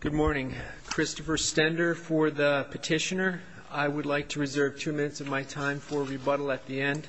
Good morning. Christopher Stender for the petitioner. I would like to reserve two minutes of my time for rebuttal at the end.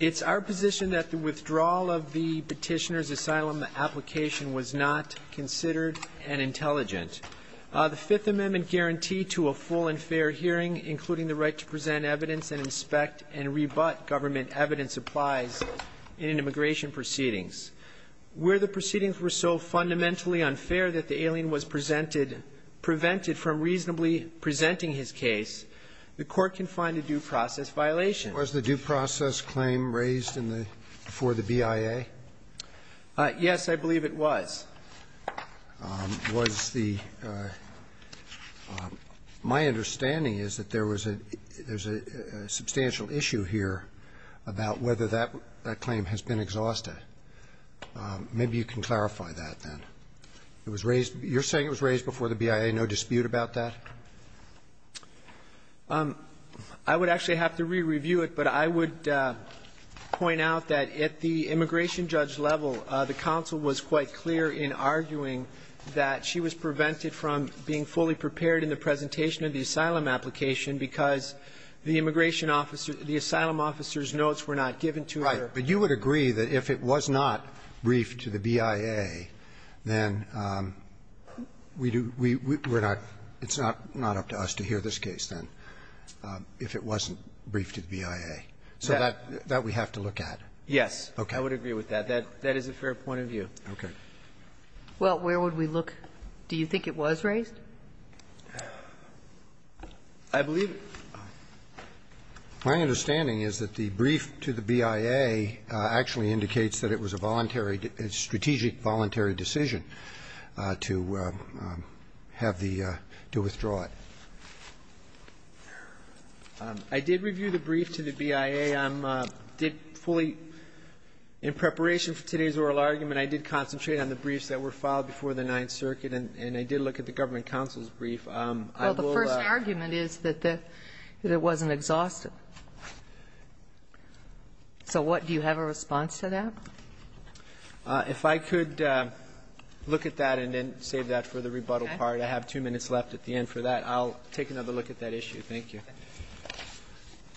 It's our position that the withdrawal of the petitioner's asylum application was not considered and intelligent. The Fifth Amendment guaranteed to a full and fair hearing, including the right to present evidence and inspect and rebut government evidence applies in immigration proceedings. Where the proceedings were so fundamentally unfair that the alien was presented – prevented from reasonably presenting his case, the Court can find a due process violation. Was the due process claim raised in the – before the BIA? Yes, I believe it was. Was the – my understanding is that there was a – there's a substantial issue here about whether that claim has been exhausted. Maybe you can clarify that, then. It was raised – you're saying it was raised before the BIA, no dispute about that? I would actually have to re-review it, but I would point out that at the immigration judge level, the counsel was quite clear in arguing that she was prevented from being fully prepared in the presentation of the asylum application because the immigration officer – the asylum officer's notes were not given to her. Right. But you would agree that if it was not briefed to the BIA, then we do – we – we're not – it's not up to us to hear this case, then, if it wasn't briefed to the BIA. Yes. So that – that we have to look at. Yes. Okay. I would agree with that. That – that is a fair point of view. Okay. Well, where would we look? Do you think it was raised? I believe – my understanding is that the brief to the BIA actually indicates that it was a voluntary – a strategic voluntary decision to have the – to withdraw it. I did review the brief to the BIA. I did fully – in preparation for today's oral argument, I did concentrate on the briefs that were filed before the Ninth Circuit, and I did look at the government counsel's brief. Well, the first argument is that it wasn't exhausted. So what – do you have a response to that? If I could look at that and then save that for the rebuttal part. Okay. I have two minutes left at the end for that. I'll take another look at that issue. Thank you.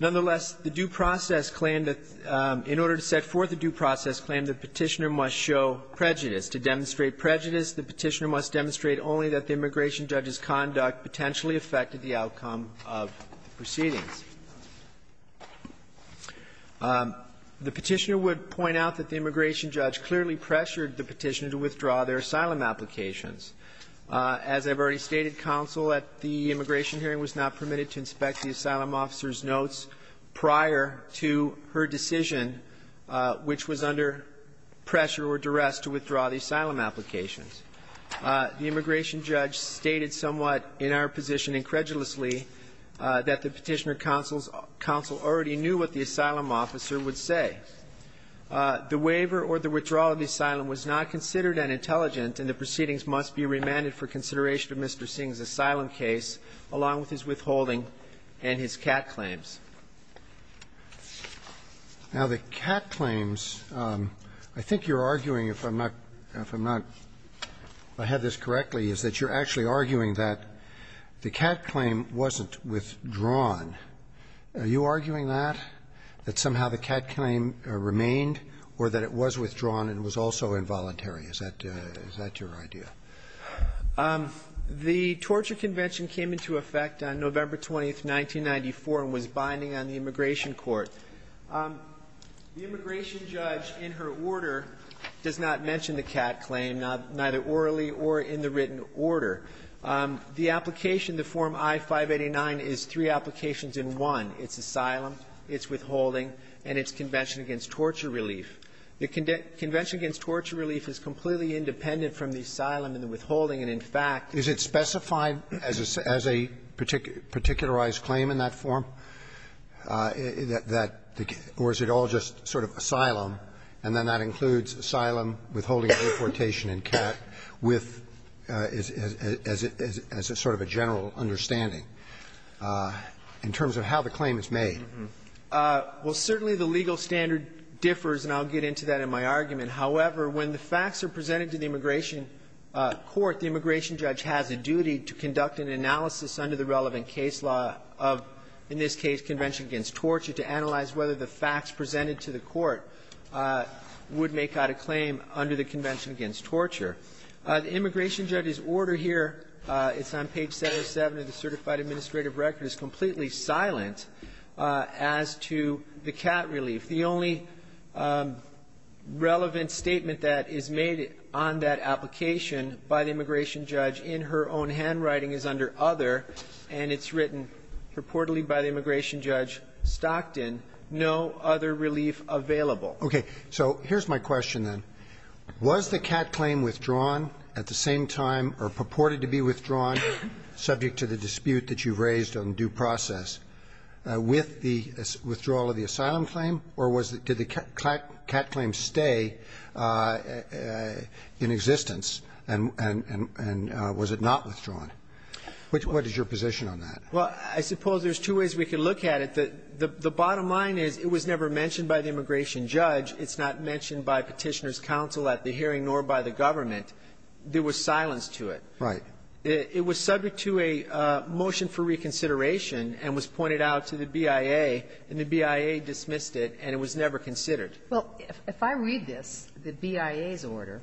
Nonetheless, the due process claim that – in order to set forth a due process claim, the Petitioner must show prejudice. To demonstrate prejudice, the Petitioner must demonstrate only that the immigration judge's conduct potentially affected the outcome of the proceedings. The Petitioner would point out that the immigration judge clearly pressured the Petitioner to withdraw their asylum applications. As I've already stated, counsel at the immigration hearing was not permitted to inspect the asylum officer's notes prior to her decision, which was under pressure or duress to withdraw the asylum applications. The immigration judge stated somewhat in our position incredulously that the Petitioner counsel already knew what the asylum officer would say. The waiver or the withdrawal of the asylum was not considered unintelligent, and the proceedings must be remanded for consideration of Mr. Singh's asylum case, along with his withholding and his CAT claims. Now, the CAT claims, I think you're arguing, if I'm not – if I'm not – if I have this correctly, is that you're actually arguing that the CAT claim wasn't withdrawn. Are you arguing that, that somehow the CAT claim remained or that it was withdrawn and was also involuntary? Is that – is that your idea? The Torture Convention came into effect on November 20th, 1994, and was binding on the immigration court. The immigration judge in her order does not mention the CAT claim, neither orally or in the written order. The application, the Form I-589, is three applications in one. It's asylum, it's withholding, and it's Convention against Torture Relief. The Convention against Torture Relief is completely independent from the asylum and the withholding, and, in fact – Is it specified as a – as a particularized claim in that form, that – or is it all just sort of asylum, and then that includes asylum, withholding, and deportation and CAT, with – as a – as a sort of a general understanding in terms of how the claim is made? Well, certainly the legal standard differs, and I'll get into that in my argument. However, when the facts are presented to the immigration court, the immigration judge has a duty to conduct an analysis under the relevant case law of, in this case, Convention against Torture, to analyze whether the facts presented to the court would make out a claim under the Convention against Torture. The immigration judge's order here, it's on page 707 of the Certified Administrative Record, is completely silent as to the CAT relief. The only relevant statement that is made on that application by the immigration judge in her own handwriting is under other, and it's written purportedly by the immigration judge Stockton, no other relief available. Okay. So here's my question, then. Was the CAT claim withdrawn at the same time, or purported to be withdrawn, subject to the dispute that you raised on due process, with the withdrawal of the asylum claim, or was – did the CAT claim stay in existence, and was it not withdrawn? What is your position on that? Well, I suppose there's two ways we could look at it. The bottom line is it was never mentioned by the immigration judge. It's not mentioned by Petitioner's counsel at the hearing, nor by the government. There was silence to it. Right. It was subject to a motion for reconsideration and was pointed out to the BIA, and the BIA dismissed it, and it was never considered. Well, if I read this, the BIA's order,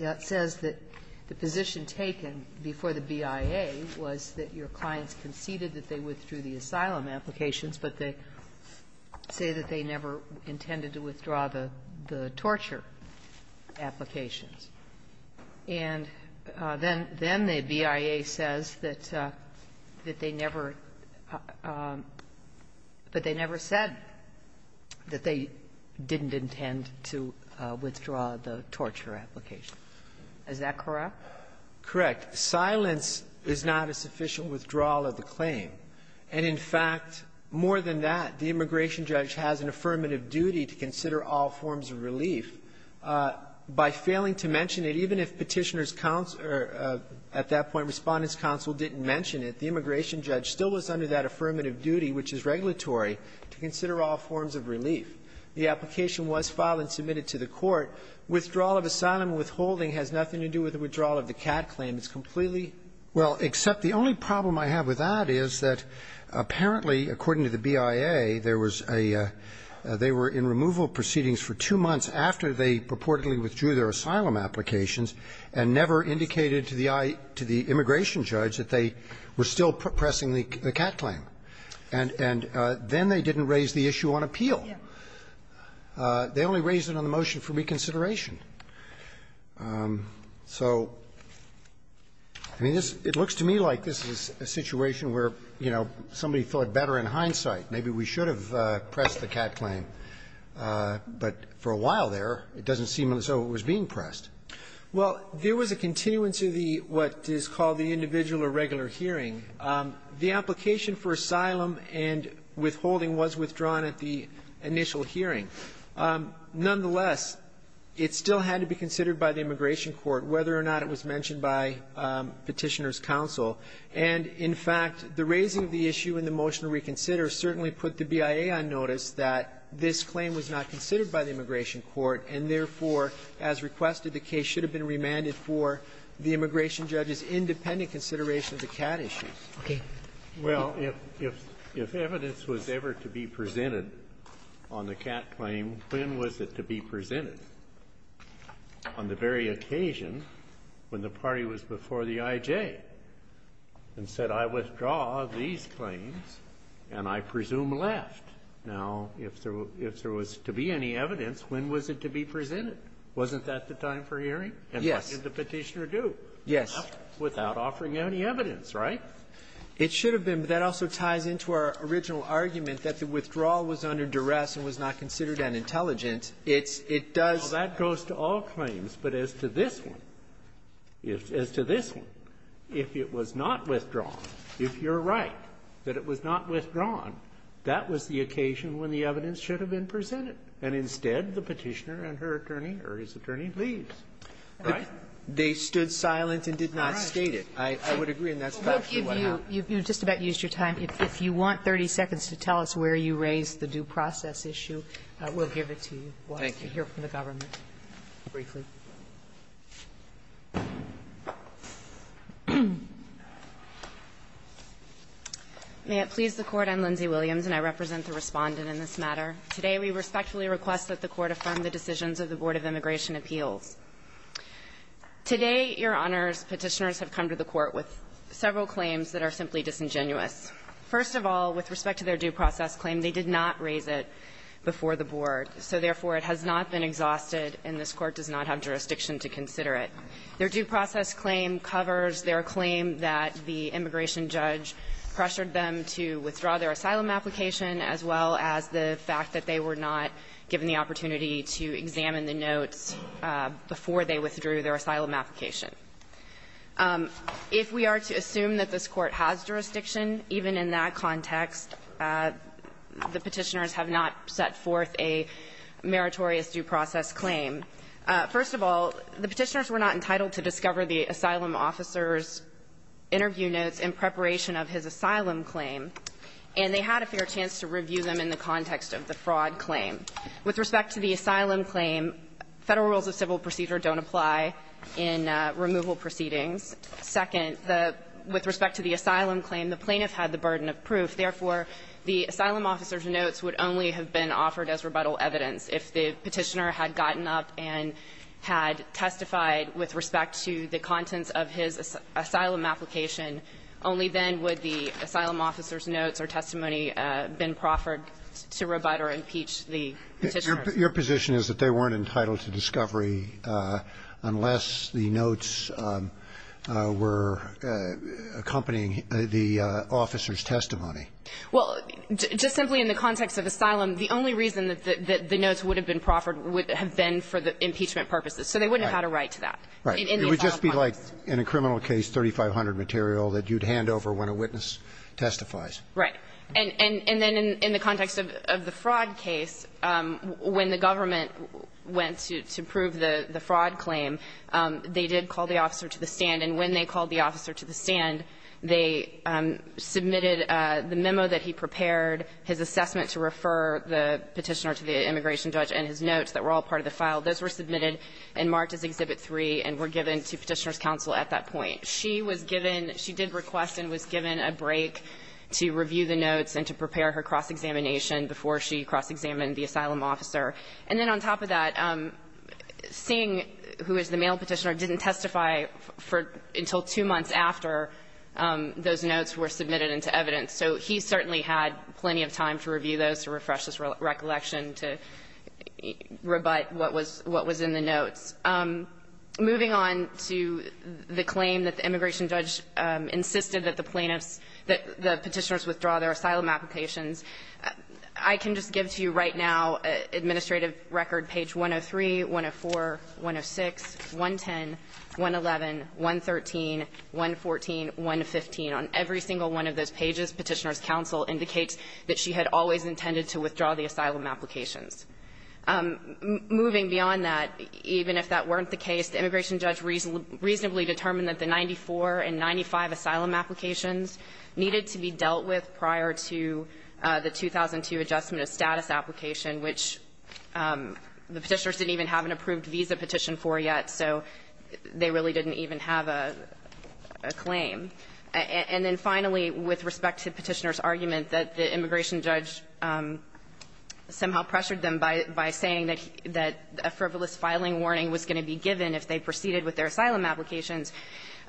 it says that the position taken before the BIA was that your clients conceded that they withdrew the asylum applications, but they say that they never intended to withdraw the torture applications. And then the BIA says that they never – that they never said that they didn't intend to withdraw the torture application. Is that correct? Correct. Silence is not a sufficient withdrawal of the claim. And in fact, more than that, the immigration judge has an affirmative duty to consider all forms of relief. By failing to mention it, even if Petitioner's counsel – or at that point Respondent's counsel didn't mention it, the immigration judge still was under that affirmative duty, which is regulatory, to consider all forms of relief. The application was filed and submitted to the Court. Withdrawal of asylum withholding has nothing to do with the withdrawal of the CAT claim. It's completely – Well, except the only problem I have with that is that apparently, according to the BIA, there was a – they were in removal proceedings for two months after they purportedly withdrew their asylum applications and never indicated to the immigration judge that they were still pressing the CAT claim. And then they didn't raise the issue on appeal. Yes. They only raised it on the motion for reconsideration. So, I mean, this – it looks to me like this is a situation where, you know, somebody thought better in hindsight, maybe we should have pressed the CAT claim. But for a while there, it doesn't seem as though it was being pressed. Well, there was a continuance of the – what is called the individual or regular hearing. The application for asylum and withholding was withdrawn at the initial hearing. Nonetheless, it still had to be considered by the Immigration Court whether or not it was mentioned by Petitioner's counsel. And, in fact, the raising of the issue in the motion to reconsider certainly put the BIA on notice that this claim was not considered by the Immigration Court, and therefore, as requested, the case should have been remanded for the immigration judge's independent consideration of the CAT issues. Okay. Well, if evidence was ever to be presented on the CAT claim, when was it to be presented? On the very occasion when the party was before the IJ and said, I withdraw these claims, and I presume left. Now, if there was to be any evidence, when was it to be presented? Wasn't that the time for hearing? Yes. And what did the Petitioner do? Yes. Without offering any evidence, right? It should have been. But that also ties into our original argument that the withdrawal was under duress and was not considered unintelligent. It's – it does – Well, that goes to all claims. But as to this one, if – as to this one, if it was not withdrawn, if you're right that it was not withdrawn, that was the occasion when the evidence should have been presented, and instead, the Petitioner and her attorney or his attorney leaves. Right? They stood silent and did not state it. I would agree, and that's factually what happened. Well, we'll give you – you've just about used your time. If you want 30 seconds to tell us where you raised the due process issue, we'll give it to you. Thank you. We'll have to hear from the government briefly. May it please the Court, I'm Lindsay Williams, and I represent the Respondent in this matter. Today, we respectfully request that the Court affirm the decisions of the Board of Immigration Appeals. Today, Your Honors, Petitioners have come to the Court with several claims that are simply disingenuous. First of all, with respect to their due process claim, they did not raise it before the Board. So therefore, it has not been exhausted, and this Court does not have jurisdiction to consider it. Their due process claim covers their claim that the immigration judge pressured them to withdraw their asylum application, as well as the fact that they were not given the opportunity to examine the notes before they withdrew their asylum application. If we are to assume that this Court has jurisdiction, even in that context, the Petitioners have not set forth a meritorious due process claim. First of all, the Petitioners were not entitled to discover the asylum officer's interview notes in preparation of his asylum claim, and they had a fair chance to review them in the context of the fraud claim. With respect to the asylum claim, Federal rules of civil procedure don't apply in removal proceedings. Second, the – with respect to the asylum claim, the plaintiff had the burden of proof. Therefore, the asylum officer's notes would only have been offered as rebuttal evidence. If the Petitioner had gotten up and had testified with respect to the contents of his asylum application, only then would the asylum officer's notes or testimony have been proffered to rebut or impeach the Petitioner. Your position is that they weren't entitled to discovery unless the notes were accompanying the officer's testimony. Well, just simply in the context of asylum, the only reason that the notes would have been proffered would have been for the impeachment purposes. So they wouldn't have had a right to that. Right. It would just be like in a criminal case, 3500 material that you'd hand over when a witness testifies. Right. And then in the context of the fraud case, when the government went to prove the fraud claim, they did call the officer to the stand. And when they called the officer to the stand, they submitted the memo that he prepared, his assessment to refer the Petitioner to the immigration judge, and his notes that were all part of the file. Those were submitted and marked as Exhibit 3 and were given to Petitioner's counsel at that point. She was given, she did request and was given a break to review the notes and to prepare her cross-examination before she cross-examined the asylum officer. And then on top of that, Singh, who is the male Petitioner, didn't testify for, until two months after those notes were submitted into evidence. So he certainly had plenty of time to review those, to refresh his recollection, to rebut what was in the notes. Moving on to the claim that the immigration judge insisted that the plaintiffs that the Petitioners withdraw their asylum applications, I can just give to you right now an administrative record, page 103, 104, 106, 110, 111, 113, 114, 115. On every single one of those pages, Petitioner's counsel indicates that she had always intended to withdraw the asylum applications. Moving beyond that, even if that weren't the case, the immigration judge reasonably determined that the 94 and 95 asylum applications needed to be dealt with prior to the 2002 adjustment of status application, which the Petitioners didn't even have an approved visa petition for yet, so they really didn't even have a claim. And then finally, with respect to Petitioner's argument that the immigration judge somehow pressured them by saying that a frivolous filing warning was going to be given if they proceeded with their asylum applications,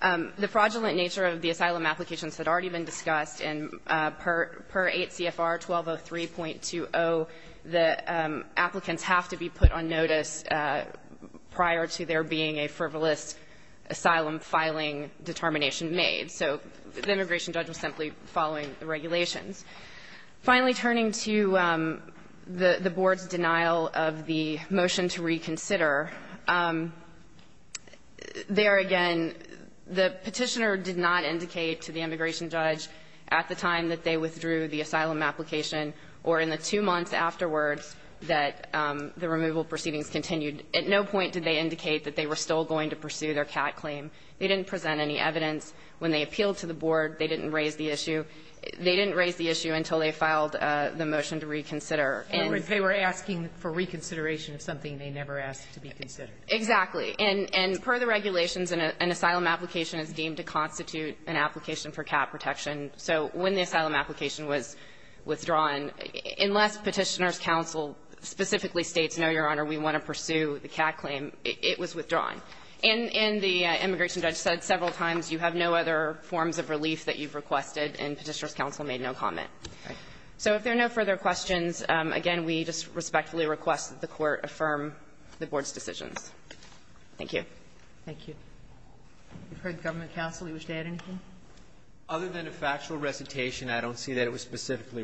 the fraudulent nature of the asylum applications had already been discussed, and per 8 CFR 1203.20, the applicants have to be put on notice prior to there being a frivolous asylum-filing determination made. So the immigration judge was simply following the regulations. Finally, turning to the Board's denial of the motion to reconsider, there again, the Petitioner did not indicate to the immigration judge at the time that they withdrew the asylum application or in the two months afterwards that the removal proceedings continued. At no point did they indicate that they were still going to pursue their CAT claim. They didn't present any evidence. When they appealed to the Board, they didn't raise the issue. They didn't raise the issue until they filed the motion to reconsider. And they were asking for reconsideration of something they never asked to be considered. Exactly. And per the regulations, an asylum application is deemed to constitute an application for CAT protection. So when the asylum application was withdrawn, unless Petitioner's counsel specifically states, no, Your Honor, we want to pursue the CAT claim, it was withdrawn. Thank you. You've heard the government counsel. You wish to add anything? Other than a factual recitation, I don't see that it was specifically raised.